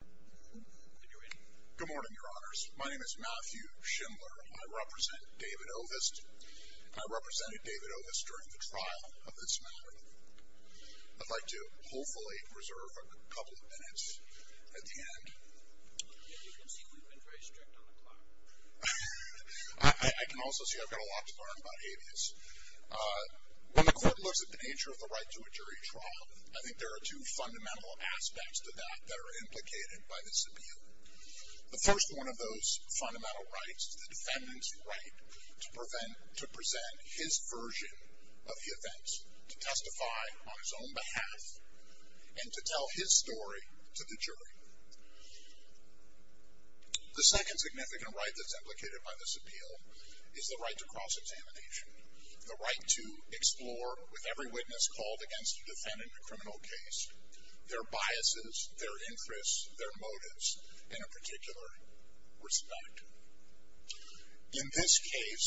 Good morning, your honors. My name is Matthew Schindler. I represent David Ovist. I represented David Ovist during the trial of this matter. I'd like to, hopefully, reserve a couple of minutes at the end. I can also see I've got a lot to learn about habeas. When the court looks at the nature of the right to a jury trial, I think there are two fundamental aspects to that that are implicated by this appeal. The first one of those fundamental rights is the defendant's right to present his version of the events, to testify on his own behalf, and to tell his story to the jury. The second significant right that's implicated by this appeal is the right to cross-examination, the right to explore with every witness called against a defendant in a criminal case, their biases, their interests, their motives, in a particular respect. In this case,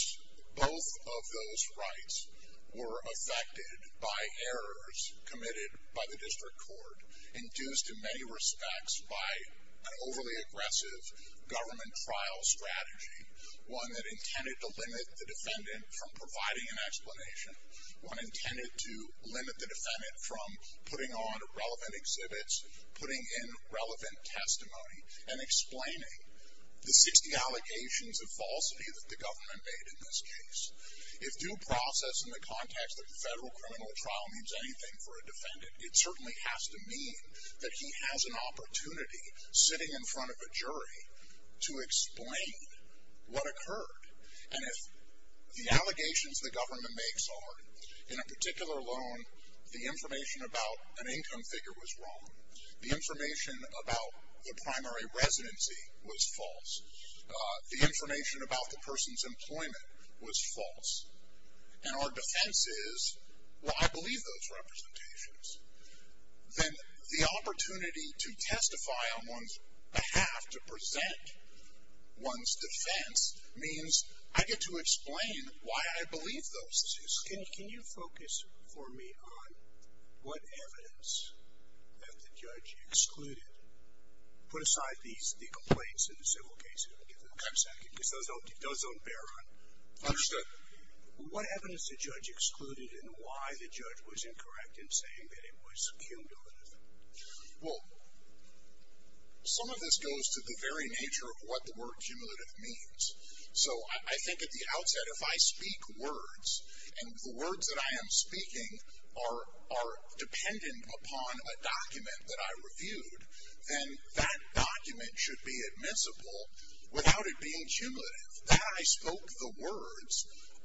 both of those rights were affected by errors committed by the district court, induced in many respects by an overly aggressive government trial strategy, one that intended to limit the defendant from providing an explanation, one intended to limit the defendant from putting on relevant exhibits, putting in relevant testimony, and explaining the 60 allegations of falsity that the government made in this case. If due process in the context of the federal criminal trial means anything for a defendant, it certainly has to mean that he has an opportunity, sitting in front of a jury, to explain what occurred. And if the allegations the government makes are, in a particular loan, the information about an income figure was wrong, the information about the primary residency was false, the information about the person's employment was false, and our defense is, well, I believe those representations, then the opportunity to testify on one's behalf, to present one's evidence, I get to explain why I believe those things. Can you focus for me on what evidence that the judge excluded? Put aside the complaints in the civil case for a second, because those don't bear on. Understood. What evidence the judge excluded and why the judge was incorrect in saying that it was cumulative? Well, some of this goes to the very nature of what the word cumulative means. So I think at the outset, if I speak words, and the words that I am speaking are dependent upon a document that I reviewed, then that document should be admissible without it being cumulative. That I spoke the words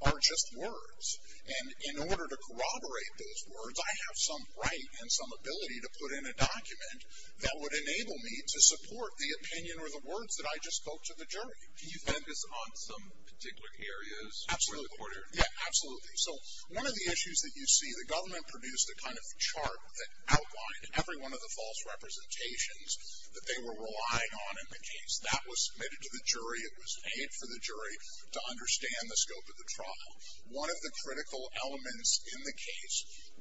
are just words. And in order to corroborate those words, I have some right and some ability to put in a document that would enable me to support the opinion or the words that I just spoke to the jury. Do you focus on some particular areas? Absolutely. Yeah, absolutely. So one of the issues that you see, the government produced a kind of chart that outlined every one of the false representations that they were relying on in the case. That was submitted to the jury, it was paid for the jury to understand the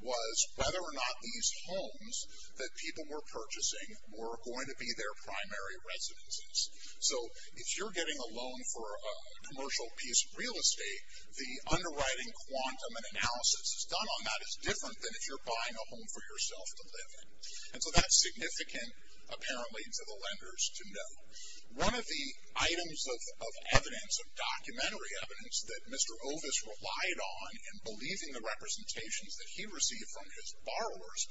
was whether or not these homes that people were purchasing were going to be their primary residences. So if you're getting a loan for a commercial piece of real estate, the underwriting quantum and analysis that's done on that is different than if you're buying a home for yourself to live in. And so that's significant, apparently, to the lenders to know. One of the items of evidence, of documentary evidence, that Mr. Ovis relied on in believing the representations that he received from his borrowers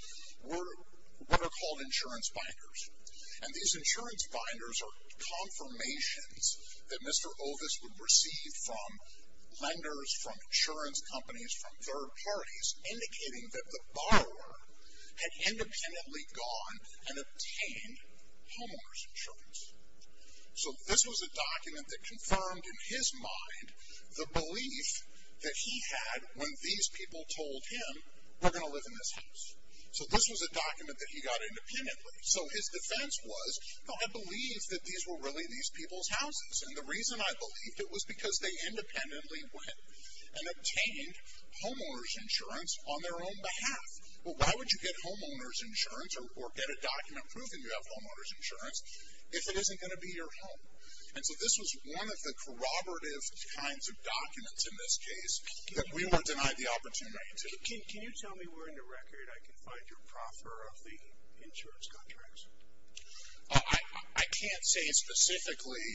were what are called insurance binders. And these insurance binders are confirmations that Mr. Ovis would receive from lenders, from insurance companies, from third parties, indicating that the borrower had independently gone and obtained homeowners insurance. So this was a document that confirmed in his mind the belief that he had when these people told him, we're going to live in this house. So this was a document that he got independently. So his defense was, I believe that these were really these people's houses. And the reason I believed it was because they independently went and obtained homeowners insurance on their own behalf. Well, why would you get homeowners insurance or get a document proving you have homeowners insurance if it isn't going to be your home? And so this was one of the corroborative kinds of documents in this case that we were denied the opportunity to. Can you tell me where in the record I can find your proffer of the insurance contracts? I can't say specifically.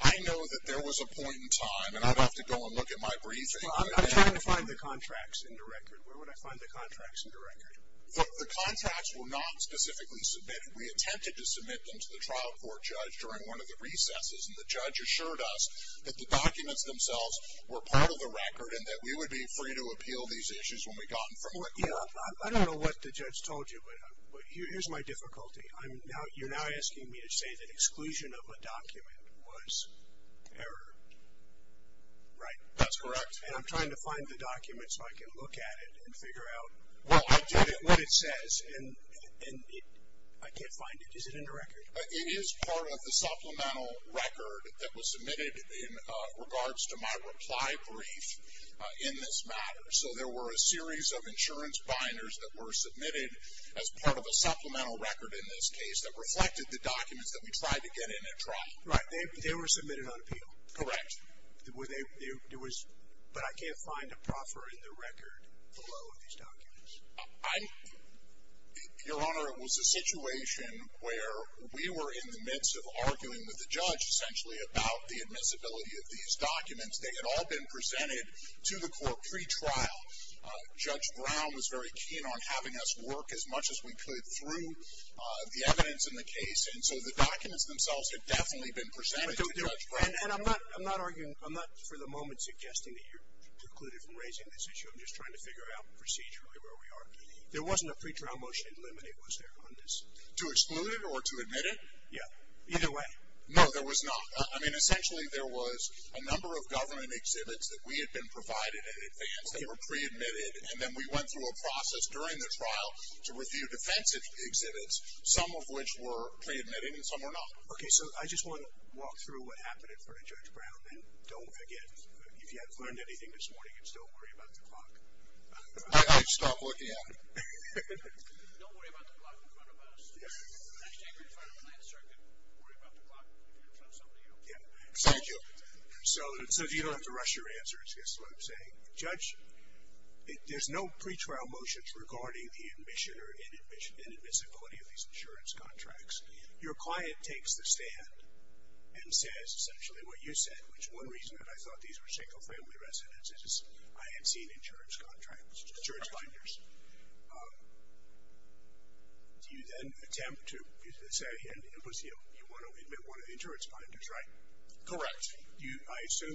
I know that there was a point in time, and I'd have to go and look at my briefing. I'm trying to find the contracts in the record. Where would I find the contracts in the record? The contracts were not specifically submitted. We attempted to submit them to the trial court and the judge during one of the recesses. And the judge assured us that the documents themselves were part of the record and that we would be free to appeal these issues when we got them from the court. I don't know what the judge told you, but here's my difficulty. You're now asking me to say that exclusion of a document was error, right? That's correct. And I'm trying to find the document so I can look at it and figure out what it says. And I can't find it. Is it in the record? It is part of the supplemental record that was submitted in regards to my reply brief in this matter. So there were a series of insurance binders that were submitted as part of a supplemental record in this case that reflected the documents that we tried to get in at trial. Right. They were submitted on appeal. Correct. But I can't find a proffer in the record below these documents. Your Honor, it was a situation where we were in the midst of arguing with the judge essentially about the admissibility of these documents. They had all been presented to the court pre-trial. Judge Brown was very keen on having us work as much as we could through the evidence in the case, and so the documents themselves had definitely been presented to Judge Brown. And I'm not arguing, I'm not for the moment suggesting that you're precluded from raising this issue. I'm just trying to figure out procedurally where we are. There wasn't a pre-trial motion in limine, was there, on this? To exclude it or to admit it? Yeah. Either way. No, there was not. I mean, essentially there was a number of government exhibits that we had been provided in advance that were pre-admitted, and then we went through a process during the trial to review defensive exhibits, some of which were pre-admitted and some were not. Okay, so I just want to walk through what happened in front of Judge Brown, and don't forget, if you haven't learned anything this morning, it's don't worry about the clock. I stopped looking at it. Don't worry about the clock in front of us. If you're standing in front of a land circuit, worry about the clock in front of somebody else. Yeah. Thank you. So you don't have to rush your answers, I guess is what I'm saying. Judge, there's no pre-trial motions regarding the admission or inadmissibility of these insurance contracts. Your client takes the stand and says essentially what you said, which one reason that I thought these were single family residences, is I had seen insurance contracts, insurance binders. Do you then attempt to say, and you want to admit one of the insurance binders, right? Correct. I assume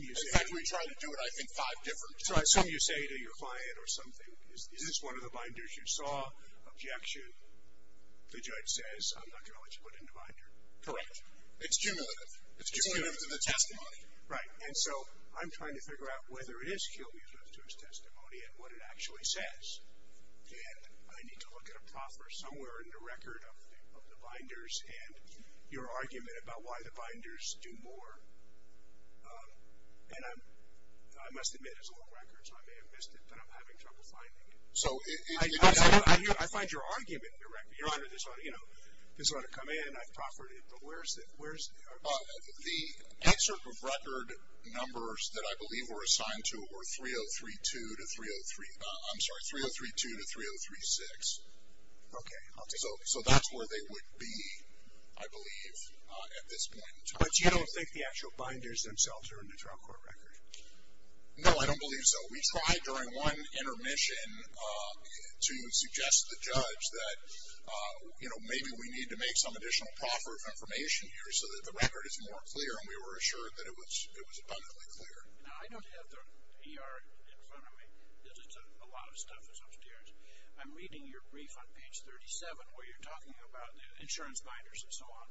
you say to your client or something, is this one of the binders you saw? Objection. The judge says, I'm not going to let you put it in the binder. Correct. It's cumulative. It's cumulative to the testimony. Right. And so I'm trying to figure out whether it is cumulative to his testimony and what it actually says. And I need to look at a proffer somewhere in the record of the binders and your argument about why the binders do more. And I must admit, as a long record, so I may have missed it, but I'm having trouble finding it. I find your argument directly. Your Honor, this ought to come in. I've proffered it. But where is it? The excerpt of record numbers that I believe were assigned to it were 3032 to 303. I'm sorry, 3032 to 3036. Okay. So that's where they would be, I believe, at this point. But you don't think the actual binders themselves are in the trial court record? No, I don't believe so. We tried during one intermission to suggest to the judge that, you know, maybe we need to make some additional proffer of information here so that the record is more clear, and we were assured that it was abundantly clear. Now, I don't have the ER in front of me. A lot of stuff is upstairs. I'm reading your brief on page 37 where you're talking about the insurance binders and so on.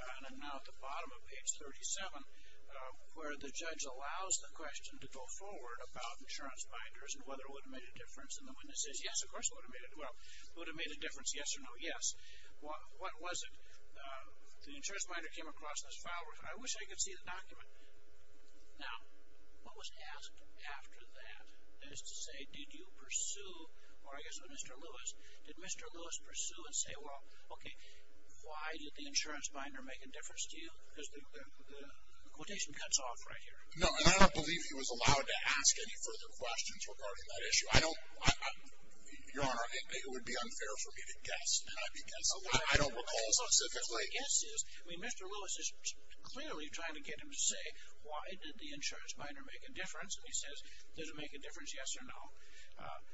And I'm now at the bottom of page 37 where the judge allows the question to go forward about insurance binders and whether it would have made a difference. And the witness says, yes, of course it would have made a difference, yes or no, yes. What was it? The insurance binder came across this file. I wish I could see the document. Now, what was asked after that is to say, did you pursue, or I guess Mr. Lewis, did Mr. Lewis pursue and say, well, okay, why did the insurance binder make a difference to you? Because the quotation cuts off right here. No, and I don't believe he was allowed to ask any further questions regarding that issue. I don't, Your Honor, it would be unfair for me to guess. I don't recall specifically. The guess is, I mean, Mr. Lewis is clearly trying to get him to say, why did the insurance binder make a difference? And he says, did it make a difference, yes or no?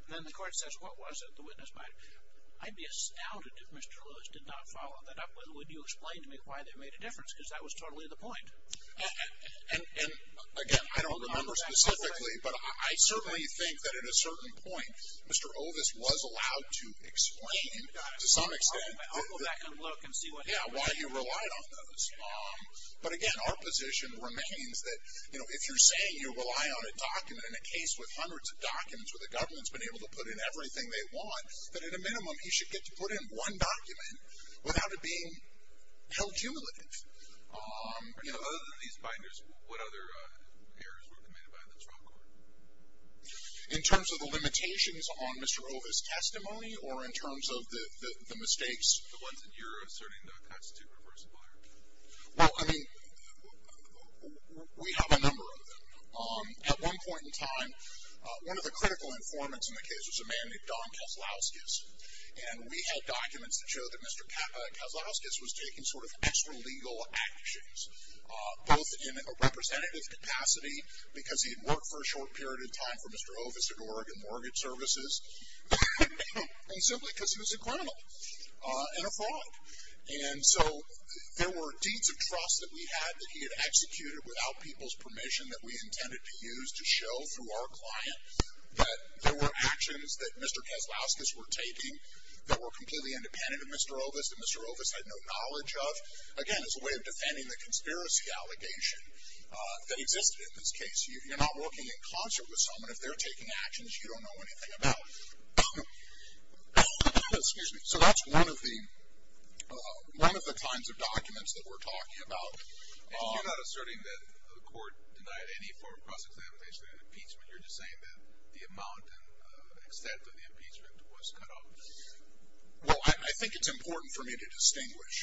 Then the court says, what was it? The witness might, I'd be astounded if Mr. Lewis did not follow that up with, would you explain to me why that made a difference? Because that was totally the point. And, again, I don't remember specifically, but I certainly think that at a certain point Mr. Ovis was allowed to explain to some extent. I'll go back and look and see what happened. Yeah, why you relied on those. But, again, our position remains that, you know, if you're saying you rely on a document in a case with hundreds of documents where the government's been able to put in everything they want, that at a minimum you should get to put in one document without it being held cumulative. You know, other than these binders, what other errors were committed by the trial court? In terms of the limitations on Mr. Ovis' testimony or in terms of the mistakes? The ones that you're asserting the constitute refers to. Well, I mean, we have a number of them. At one point in time, one of the critical informants in the case was a man named Don Kaslowskis, and we had documents that showed that Mr. Kaslowskis was taking sort of extralegal actions, both in a representative capacity because he had worked for a short period of time for Mr. Ovis at Oregon Mortgage Services, and simply because he was a criminal and a fraud. And so there were deeds of trust that we had that he had executed without people's permission that we intended to use to show through our client that there were actions that Mr. Kaslowskis were taking that were completely independent of Mr. Ovis and Mr. Ovis had no knowledge of. Again, as a way of defending the conspiracy allegation that existed in this case. You're not working in concert with someone. If they're taking actions you don't know anything about. Excuse me. So that's one of the kinds of documents that we're talking about. And you're not asserting that the court denied any form of cross-examination in the impeachment. You're just saying that the amount and extent of the impeachment was cut off. Well, I think it's important for me to distinguish.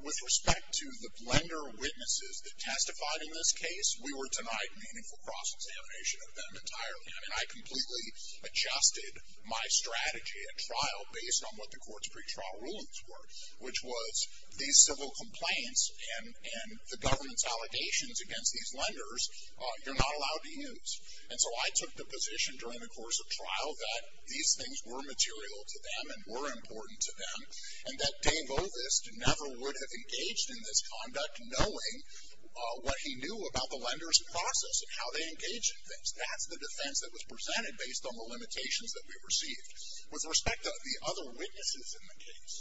With respect to the lender witnesses that testified in this case, we were denied meaningful cross-examination of them entirely. I mean, I completely adjusted my strategy at trial based on what the court's pretrial rulings were, which was these civil complaints and the government's allegations against these lenders, you're not allowed to use. And so I took the position during the course of trial that these things were material to them and were important to them and that Dave Ovis never would have engaged in this conduct knowing what he knew about the lender's process and how they engage in things. That's the defense that was presented based on the limitations that we received. With respect to the other witnesses in the case,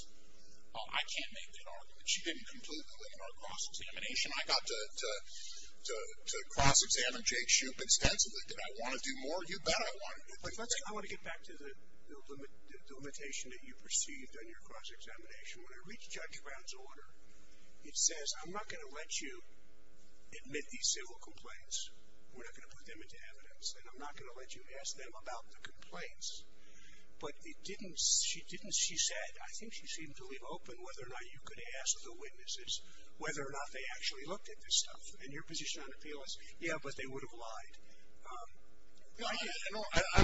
I can't make that argument. You didn't completely limit our cross-examination. I got to cross-examine Jake Shoup extensively. Did I want to do more? You bet I wanted to do more. I want to get back to the limitation that you perceived on your cross-examination. When I reach Judge Brown's order, it says, I'm not going to let you admit these civil complaints. We're not going to put them into evidence. And I'm not going to let you ask them about the complaints. But it didn't, she didn't, she said, I think she seemed to leave open whether or not you could ask the witnesses whether or not they actually looked at this stuff. And your position on appeal is, yeah, but they would have lied. I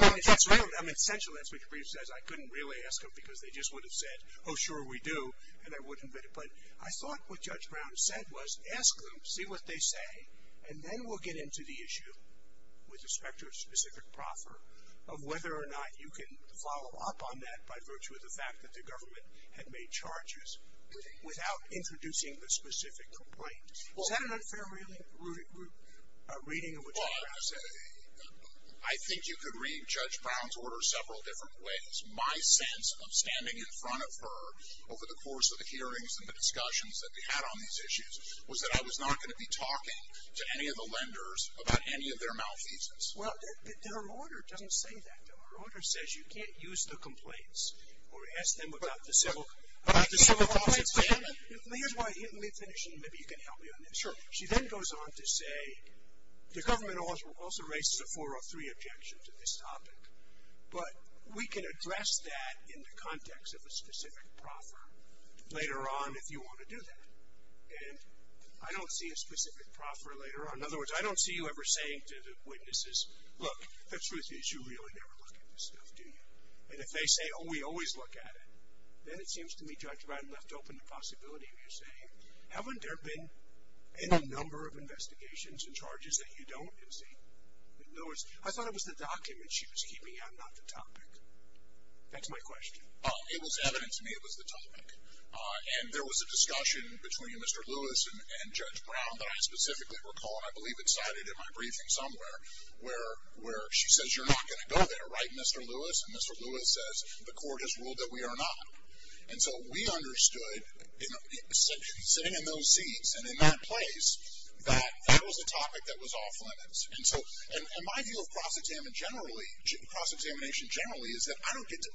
mean, essentially that's what your brief says. I couldn't really ask them because they just would have said, oh, sure, we do, and I wouldn't admit it. But I thought what Judge Brown said was, ask them, see what they say, and then we'll get into the issue, with respect to a specific proffer, of whether or not you can follow up on that by virtue of the fact that the government had made charges without introducing the specific complaint. Is that an unfair reading of what Judge Brown said? Well, I think you could read Judge Brown's order several different ways. My sense of standing in front of her over the course of the hearings and the discussions that we had on these issues was that I was not going to be talking to any of the lenders about any of their malfeasance. Well, her order doesn't say that, though. Her order says you can't use the complaints or ask them about the civil cause of famine. Let me finish, and maybe you can help me on this. Sure. She then goes on to say, the government also raises a 403 objection to this topic, but we can address that in the context of a specific proffer later on if you want to do that. And I don't see a specific proffer later on. In other words, I don't see you ever saying to the witnesses, look, the truth is you really never look at this stuff, do you? And if they say, oh, we always look at it, then it seems to me Judge Brown left open the possibility of you saying, haven't there been any number of investigations and charges that you don't? In other words, I thought it was the document she was keeping out, not the topic. That's my question. It was evident to me it was the topic. And there was a discussion between Mr. Lewis and Judge Brown that I specifically recall, and I believe it's cited in my briefing somewhere, where she says you're not going to go there, right, Mr. Lewis? And Mr. Lewis says the court has ruled that we are not. And so we understood, sitting in those seats and in that place, that that was a topic that was off limits. And so my view of cross-examination generally is that I don't get to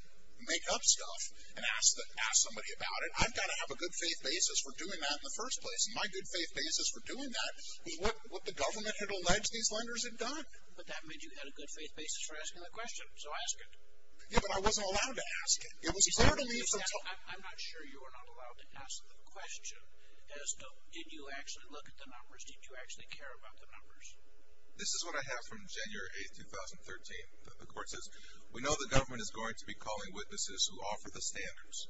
make up stuff and ask somebody about it. I've got to have a good faith basis for doing that in the first place. And my good faith basis for doing that was what the government had alleged these lenders had done. But that made you have a good faith basis for asking the question. So ask it. Yeah, but I wasn't allowed to ask it. I'm not sure you were not allowed to ask the question as to did you actually look at the numbers, did you actually care about the numbers. This is what I have from January 8, 2013. The court says, we know the government is going to be calling witnesses who offer the standards,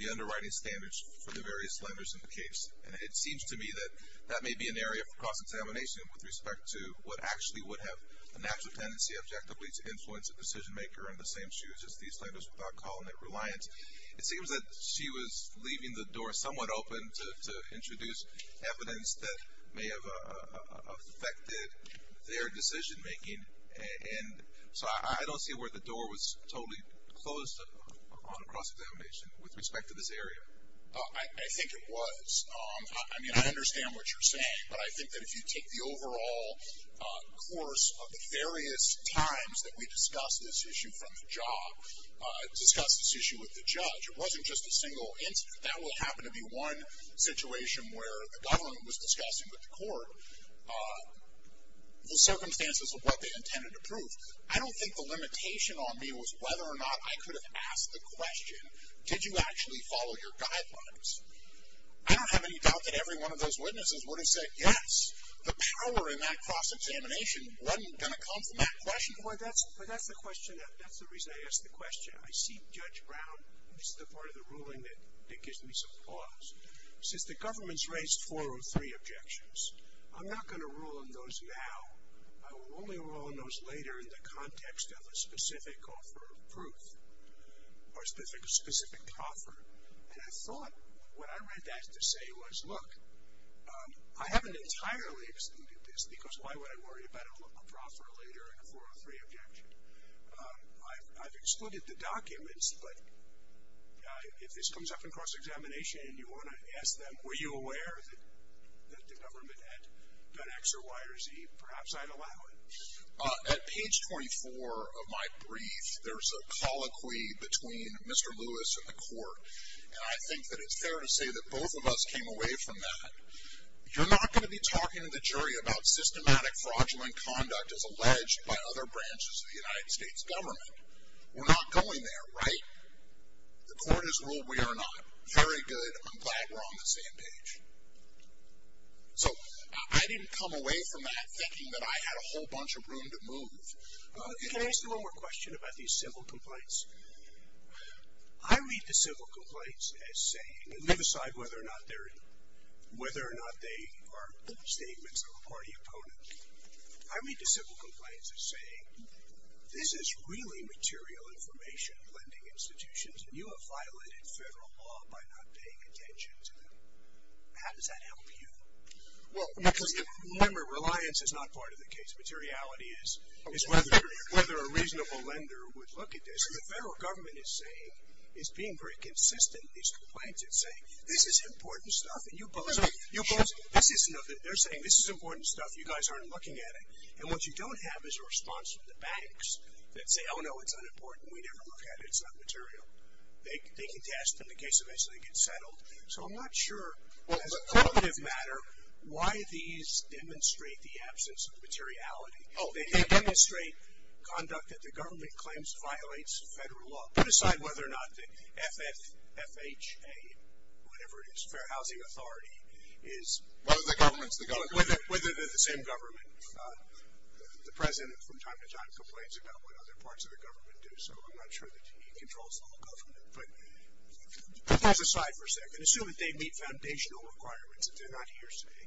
the underwriting standards for the various lenders in the case. And it seems to me that that may be an area for cross-examination with respect to what actually would have a natural tendency, objectively, to influence a decision-maker in the same shoes as these lenders without calling it reliance. It seems that she was leaving the door somewhat open to introduce evidence that may have affected their decision-making. And so I don't see where the door was totally closed on cross-examination with respect to this area. I think it was. I mean, I understand what you're saying. But I think that if you take the overall course of the various times that we discussed this issue from the job, discussed this issue with the judge, it wasn't just a single instance. That would happen to be one situation where the government was discussing with the court the circumstances of what they intended to prove. I don't think the limitation on me was whether or not I could have asked the question, did you actually follow your guidelines? I don't have any doubt that every one of those witnesses would have said yes. The power in that cross-examination wasn't going to come from that question. Well, that's the reason I asked the question. I see Judge Brown as the part of the ruling that gives me some pause. Since the government's raised 403 objections, I'm not going to rule on those now. I will only rule on those later in the context of a specific offer of proof or a specific proffer. And I thought what I read that to say was, look, I haven't entirely excluded this, because why would I worry about a proffer later and a 403 objection? I've excluded the documents, but if this comes up in cross-examination and you want to ask them, were you aware that the government had done X or Y or Z, perhaps I'd allow it. At page 24 of my brief, there's a colloquy between Mr. Lewis and the court, and I think that it's fair to say that both of us came away from that. You're not going to be talking to the jury about systematic fraudulent conduct as alleged by other branches of the United States government. We're not going there, right? The court has ruled we are not. Very good. I'm glad we're on the same page. So I didn't come away from that thinking that I had a whole bunch of room to move. Can I ask you one more question about these civil complaints? I read the civil complaints as saying, and leave aside whether or not they are statements of a party opponent, I read the civil complaints as saying, this is really material information lending institutions, and you have violated federal law by not paying attention to them. How does that help you? Well, because remember, reliance is not part of the case. Materiality is whether a reasonable lender would look at this. And the federal government is saying, is being pretty consistent, these complaints, it's saying, this is important stuff. And you oppose it. They're saying, this is important stuff. You guys aren't looking at it. And what you don't have is a response from the banks that say, oh, no, it's unimportant. We never look at it. It's not material. They can test in the case in which they get settled. So I'm not sure, as a punitive matter, why these demonstrate the absence of materiality. They demonstrate conduct that the government claims violates federal law. Put aside whether or not the FFHA, whatever it is, Fair Housing Authority, is... One of the governments, the government. Whether they're the same government. The president, from time to time, complains about what other parts of the government do. So I'm not sure that he controls the whole government. But put those aside for a second. Assume that they meet foundational requirements and they're not hearsay.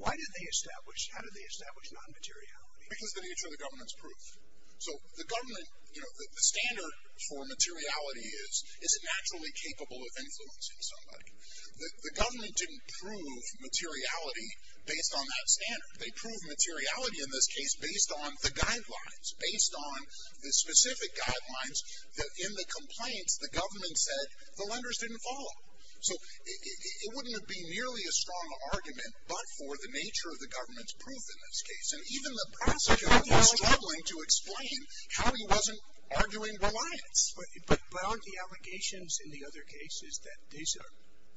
Why do they establish, how do they establish non-materiality? Because of the nature of the government's proof. So the government, you know, the standard for materiality is, is it naturally capable of influencing somebody? The government didn't prove materiality based on that standard. They proved materiality in this case based on the guidelines. Based on the specific guidelines that, in the complaints, the government said the lenders didn't follow. So it wouldn't have been nearly a strong argument, but for the nature of the government's proof in this case. And even the prosecutor was struggling to explain how he wasn't arguing reliance. But aren't the allegations in the other cases that these are,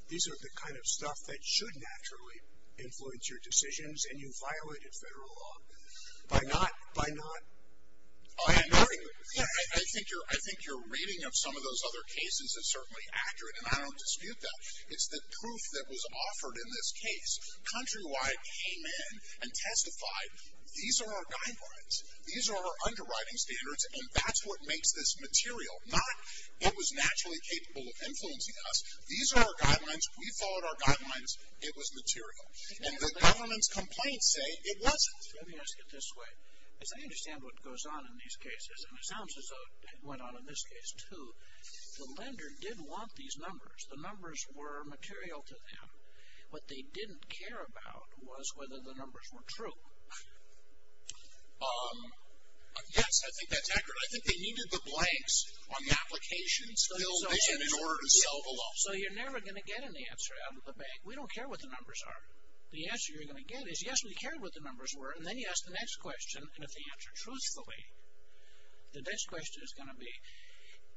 these are the kind of stuff that should naturally influence your decisions and you violated federal law by not, by not. I think you're, I think you're reading of some of those other cases as certainly accurate, and I don't dispute that. It's the proof that was offered in this case. Countrywide came in and testified, these are our guidelines. These are our underwriting standards, and that's what makes this material. Not it was naturally capable of influencing us. These are our guidelines. We followed our guidelines. It was material. And the government's complaints say it wasn't. Let me ask it this way. Because I understand what goes on in these cases, and it sounds as though it went on in this case, too. The lender did want these numbers. The numbers were material to them. What they didn't care about was whether the numbers were true. Yes, I think that's accurate. I think they needed the blanks on the applications filled in in order to sell the law. So you're never going to get an answer out of the bank. We don't care what the numbers are. The answer you're going to get is, yes, we care what the numbers were, and then you ask the next question, and if they answer truthfully. The next question is going to be,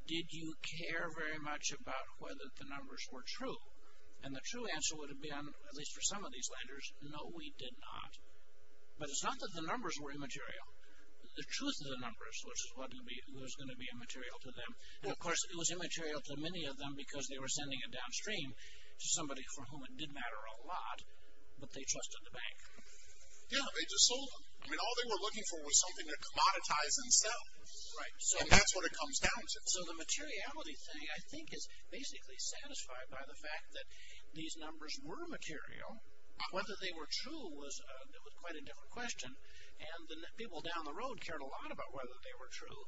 did you care very much about whether the numbers were true? And the true answer would have been, at least for some of these lenders, no, we did not. But it's not that the numbers were immaterial. The truth of the numbers was going to be immaterial to them. And, of course, it was immaterial to many of them because they were sending it downstream to somebody for whom it did matter a lot, but they trusted the bank. Yes, they just sold them. All they were looking for was something to commoditize and sell. And that's what it comes down to. So the materiality thing, I think, is basically satisfied by the fact that these numbers were material. Whether they were true was quite a different question. And the people down the road cared a lot about whether they were true.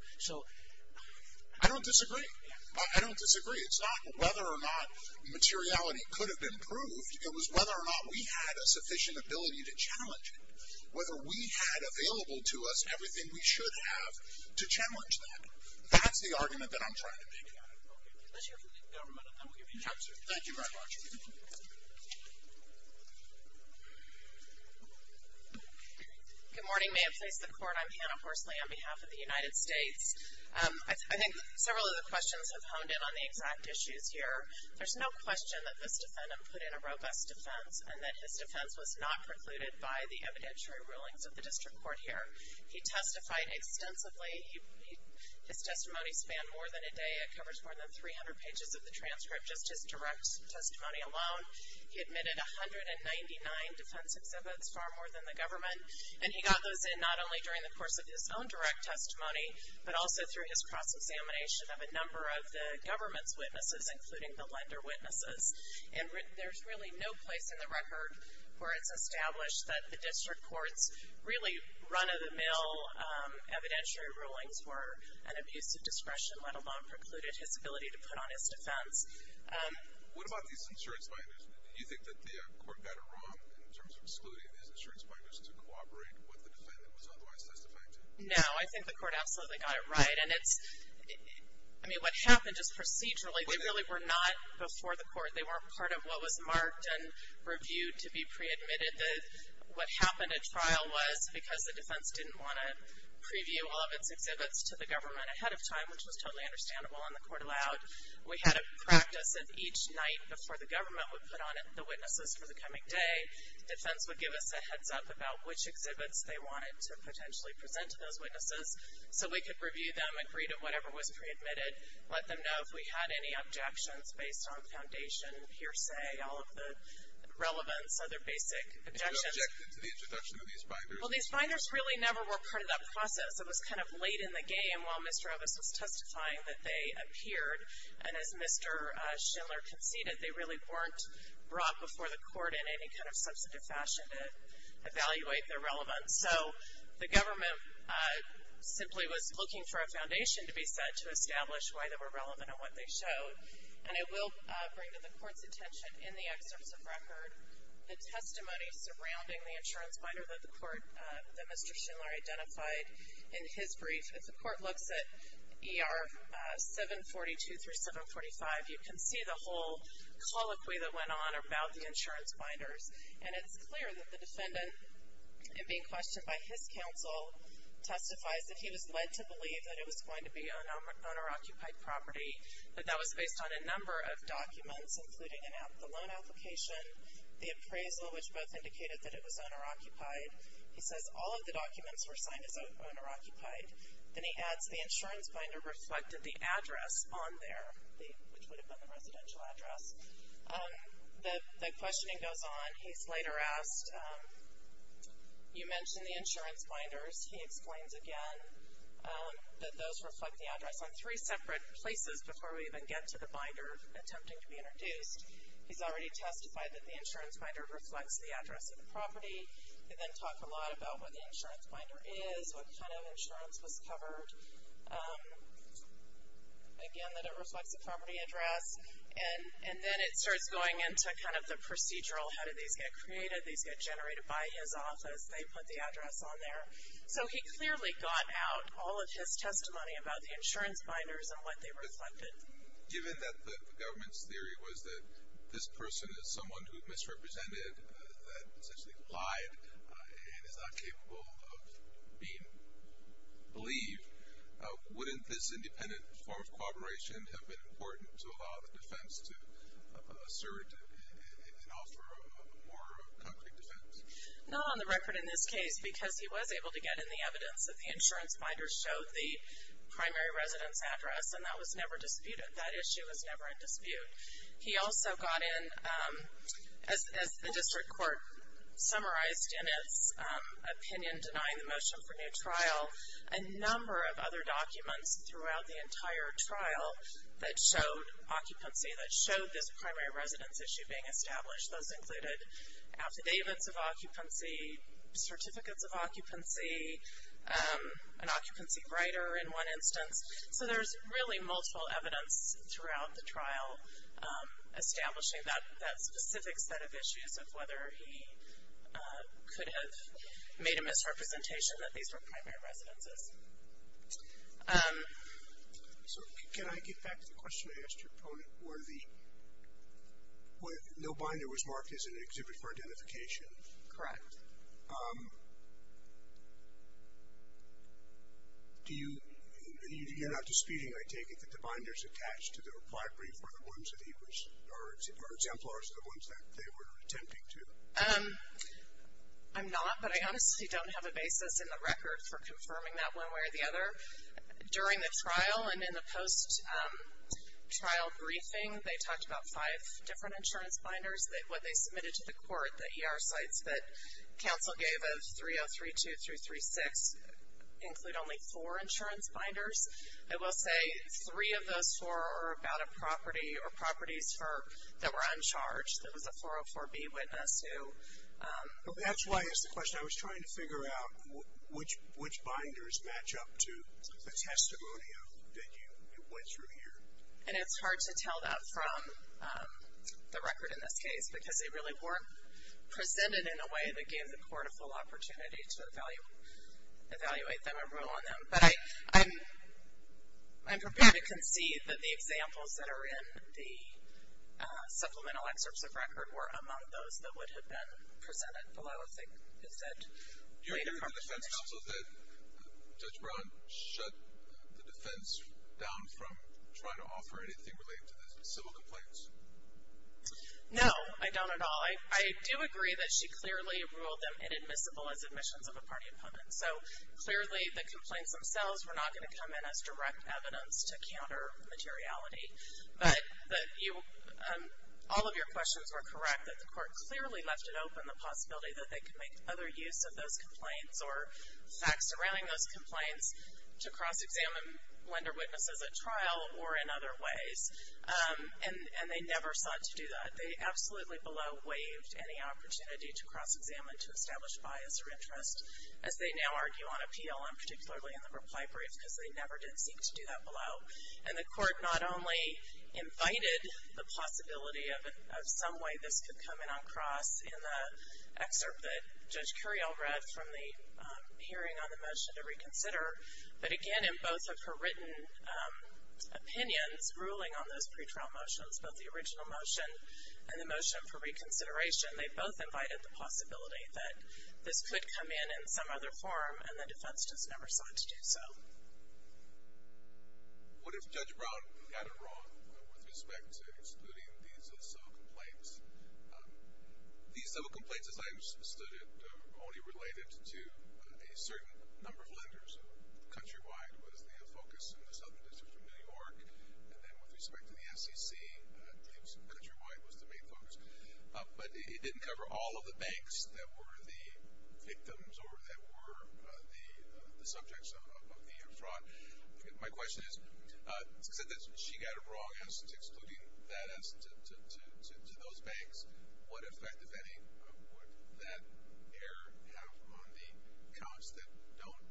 I don't disagree. I don't disagree. It's not whether or not materiality could have been proved. It was whether or not we had a sufficient ability to challenge it, whether we had available to us everything we should have to challenge that. That's the argument that I'm trying to make. Okay. Unless you're from the government, I will give you an answer. Thank you very much. Good morning. May it please the Court. I'm Hannah Horsley on behalf of the United States. I think several of the questions have honed in on the exact issues here. There's no question that this defendant put in a robust defense and that his defense was not precluded by the evidentiary rulings of the district court here. He testified extensively. His testimony spanned more than a day. It covers more than 300 pages of the transcript, just his direct testimony alone. He admitted 199 defense exhibits, far more than the government. And he got those in not only during the course of his own direct testimony, but also through his cross-examination of a number of the government's witnesses, including the lender witnesses. And there's really no place in the record where it's established that the district court's really run-of-the-mill evidentiary rulings were an abuse of discretion, let alone precluded his ability to put on his defense. What about these insurance finders? Do you think that the court got it wrong in terms of excluding these insurance finders to corroborate what the defendant was otherwise testifying to? No, I think the court absolutely got it right. And it's – I mean, what happened just procedurally, they really were not before the court. They weren't part of what was marked and reviewed to be pre-admitted. What happened at trial was because the defense didn't want to preview all of its exhibits to the government ahead of time, which was totally understandable and the court allowed, we had a practice that each night before the government would put on the witnesses for the coming day, defense would give us a heads-up about which exhibits they wanted to potentially present to those witnesses so we could review them, agree to whatever was pre-admitted, let them know if we had any objections based on foundation, hearsay, all of the relevance, other basic objections. And you objected to the introduction of these finders? Well, these finders really never were part of that process. It was kind of late in the game while Mr. Ovis was testifying that they appeared. And as Mr. Schindler conceded, they really weren't brought before the court in any kind of substantive fashion to evaluate their relevance. So the government simply was looking for a foundation to be set to establish why they were relevant and what they showed. And I will bring to the court's attention in the excerpts of record the testimony surrounding the insurance binder that Mr. Schindler identified in his brief. If the court looks at ER 742 through 745, you can see the whole colloquy that went on about the insurance binders. And it's clear that the defendant, in being questioned by his counsel, testifies that he was led to believe that it was going to be an owner-occupied application, the appraisal, which both indicated that it was owner-occupied. He says all of the documents were signed as owner-occupied. Then he adds the insurance binder reflected the address on there, which would have been the residential address. The questioning goes on. He's later asked, you mentioned the insurance binders. He explains again that those reflect the address on three separate places before we even get to the binder attempting to be introduced. He's already testified that the insurance binder reflects the address of the property. He then talked a lot about what the insurance binder is, what kind of insurance was covered. Again, that it reflects the property address. And then it starts going into kind of the procedural, how did these get created? These get generated by his office. They put the address on there. So he clearly got out all of his testimony about the insurance binders and what they reflected. Given that the government's theory was that this person is someone who misrepresented, that essentially applied and is not capable of being believed, wouldn't this independent form of corroboration have been important to allow the defense to assert an offer of more concrete defense? Not on the record in this case because he was able to get in the evidence that the insurance binders showed the primary residence address, and that was never disputed. That issue was never in dispute. He also got in, as the district court summarized in its opinion denying the motion for new trial, a number of other documents throughout the entire trial that showed occupancy, that showed this primary residence issue being established. Those included affidavits of occupancy, certificates of occupancy, an occupancy writer in one instance. So there's really multiple evidence throughout the trial establishing that specific set of issues of whether he could have made a misrepresentation that these were primary residences. So can I get back to the question I asked your opponent where the, where no binder was marked as an exhibit for identification? Correct. Do you, you're not disputing, I take it, that the binders attached to the library were the ones that he was, or exemplars of the ones that they were attempting to? I'm not, but I honestly don't have a basis in the record for confirming that one way or the other. During the trial and in the post-trial briefing, they talked about five different insurance binders. What they submitted to the court, the ER sites that counsel gave of 3032 through 36, include only four insurance binders. I will say three of those four are about a property or properties for, that were uncharged. There was a 404B witness who. That's why I asked the question. I was trying to figure out which binders match up to the testimonial that you went through here. And it's hard to tell that from the record in this case because they really weren't presented in a way that gave the court a full opportunity to evaluate them and rule on them. But I'm prepared to concede that the examples that are in the supplemental excerpts of record were among those that would have been presented below if they had said. Do you agree with the defense counsel that Judge Brown shut the defense down from trying to offer anything related to the civil complaints? No, I don't at all. I do agree that she clearly ruled them inadmissible as admissions of a party opponent. So clearly the complaints themselves were not going to come in as direct evidence to counter materiality. But all of your questions were correct that the court clearly left it open the possibility that they could make other use of those complaints or facts surrounding those complaints to cross-examine lender witnesses at trial or in other ways. And they never sought to do that. They absolutely below waived any opportunity to cross-examine to establish bias or interest. As they now argue on appeal, and particularly in the reply brief, because they never did seek to do that below. And the court not only invited the possibility of some way this could come in on cross in the excerpt that Judge Curiel read from the hearing on the motion to reconsider, but again in both of her written opinions ruling on those pretrial motions, both the original motion and the motion for reconsideration, they both invited the possibility that this could come in in some other form and the defense just never sought to do so. What if Judge Brown got it wrong with respect to excluding these civil complaints? These civil complaints, as I understood it, are only related to a certain number of lenders. Countrywide was the focus in the Southern District of New York, and then with respect to the SEC, I believe countrywide was the main focus. But it didn't cover all of the banks that were the victims or that were the subjects of the fraud. My question is, since she got it wrong as to excluding that as to those banks, what effect, if any, would that error have on the accounts that don't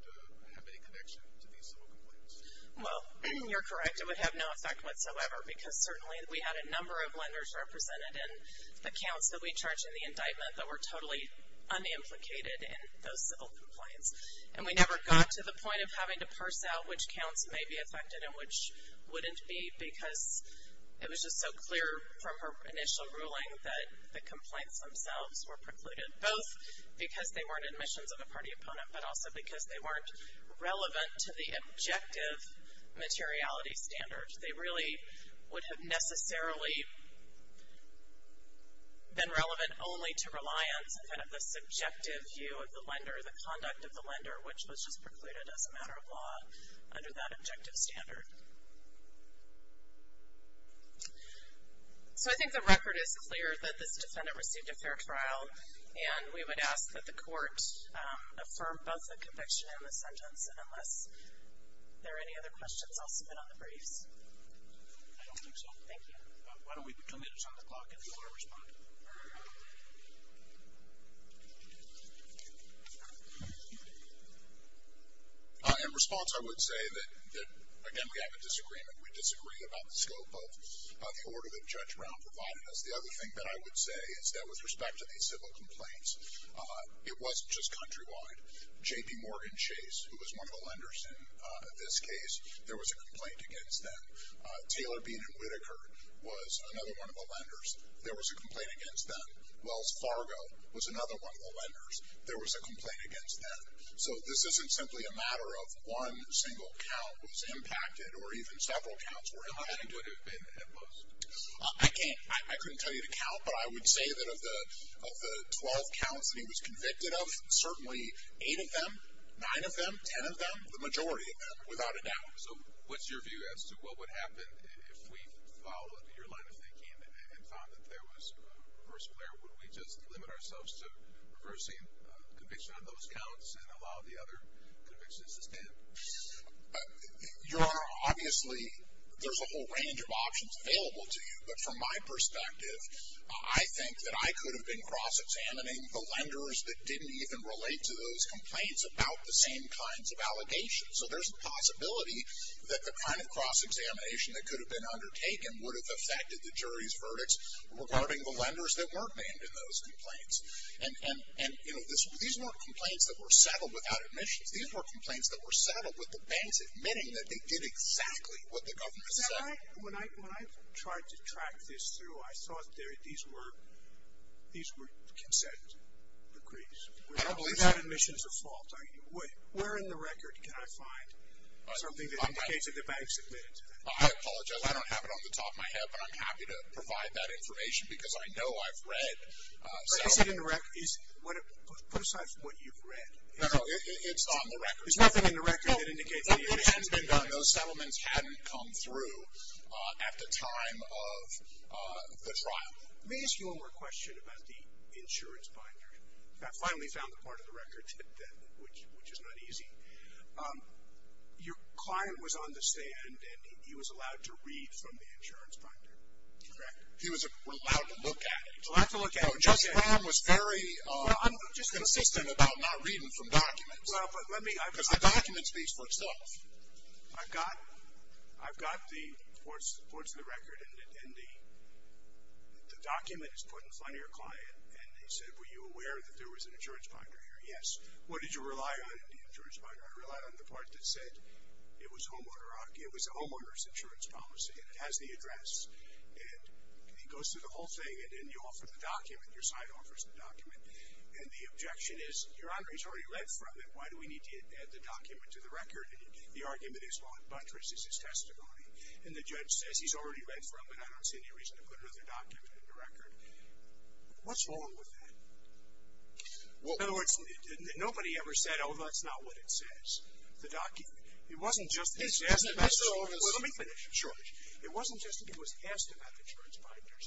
have any connection to these civil complaints? Well, you're correct. It would have no effect whatsoever, because certainly we had a number of lenders represented in accounts that we charged in the indictment that were totally unimplicated in those civil complaints. And we never got to the point of having to parse out which counts may be affected and which wouldn't be because it was just so clear from her initial ruling that the complaints themselves were precluded, both because they weren't admissions of a party opponent, but also because they weren't relevant to the objective materiality standards. They really would have necessarily been relevant only to reliance on kind of the subjective view of the lender, the conduct of the lender, which was just precluded as a matter of law under that objective standard. So I think the record is clear that this defendant received a fair trial, and we would ask that the court affirm both the conviction and the sentence. And unless there are any other questions, I'll submit on the briefs. I don't think so. Thank you. Why don't we commit it on the clock if you want to respond? In response, I would say that, again, we have a disagreement. We disagree about the scope of the order that Judge Brown provided us. The other thing that I would say is that with respect to these civil complaints, it wasn't just countrywide. J.P. Morgan Chase, who was one of the lenders in this case, there was a complaint against them. Taylor Bean and Whitaker was another one of the lenders. There was a complaint against them. Wells Fargo was another one of the lenders. There was a complaint against them. So this isn't simply a matter of one single count was impacted or even several counts were impacted. How many would have been imposed? I couldn't tell you the count, but I would say that of the 12 counts that he was convicted of, certainly eight of them, nine of them, ten of them, the majority of them, without a doubt. So what's your view as to what would happen if we followed your line of thinking and found that there was reverse glare? Would we just limit ourselves to reversing conviction on those counts and allow the other convictions to stand? Your Honor, obviously, there's a whole range of options available to you. But from my perspective, I think that I could have been cross-examining the lenders that didn't even relate to those complaints about the same kinds of allegations. So there's a possibility that the kind of cross-examination that could have been undertaken would have affected the jury's verdicts regarding the lenders that weren't named in those complaints. And, you know, these weren't complaints that were settled without admissions. These were complaints that were settled with the banks admitting that they did exactly what the government said. When I tried to track this through, I saw that these were consent decrees. Without admissions, a fault. Where in the record can I find something that indicates that the banks admitted to that? I apologize. I don't have it on the top of my head, but I'm happy to provide that information because I know I've read. Is it in the record? Put aside from what you've read. No, no, it's on the record. There's nothing in the record that indicates that the admissions have been done. And those settlements hadn't come through at the time of the trial. Let me ask you one more question about the insurance binder. I finally found the part of the record that did that, which is not easy. Your client was on the stand, and he was allowed to read from the insurance binder. Correct. He was allowed to look at it. He was allowed to look at it. No, Justice Graham was very unconsistent about not reading from documents. Well, but let me. Because the document speaks for itself. I've got the reports of the record, and the document is put in front of your client. And he said, were you aware that there was an insurance binder here? Yes. What did you rely on in the insurance binder? I relied on the part that said it was a homeowner's insurance policy, and it has the address. And he goes through the whole thing, and then you offer the document. Your side offers the document. And the objection is, Your Honor, he's already read from it. Why do we need to add the document to the record? The argument is, well, it buttresses his testimony. And the judge says he's already read from it. I don't see any reason to put another document in the record. What's wrong with that? In other words, nobody ever said, oh, that's not what it says, the document. It wasn't just that he was asked about the insurance binder. Let me finish. It wasn't just that he was asked about the insurance binders.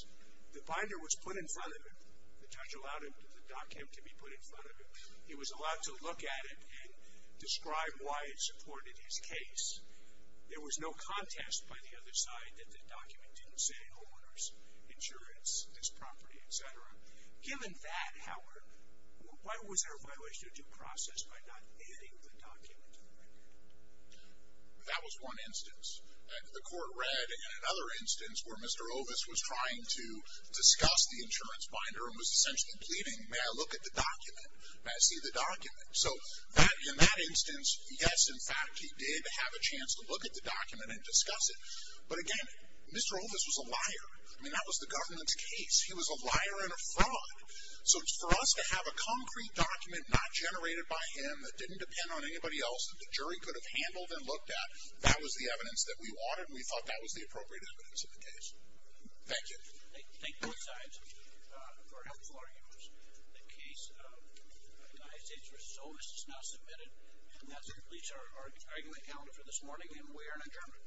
The binder was put in front of him. The judge allowed the document to be put in front of him. He was allowed to look at it and describe why it supported his case. There was no contest by the other side that the document didn't say homeowners' insurance, his property, et cetera. Given that, Howard, why was there a violation of due process by not adding the document to the record? That was one instance. The court read. And another instance where Mr. Ovis was trying to discuss the insurance binder and was essentially pleading, may I look at the document? May I see the document? So in that instance, yes, in fact, he did have a chance to look at the document and discuss it. But, again, Mr. Ovis was a liar. I mean, that was the government's case. He was a liar and a fraud. So for us to have a concrete document not generated by him that didn't depend on anybody else that the jury could have handled and looked at, that was the evidence that we wanted, and we thought that was the appropriate evidence in the case. Thank you. Thank both sides for helpful arguments. The case of United States v. Ovis is now submitted, and that completes our argument calendar for this morning, and we are adjourned.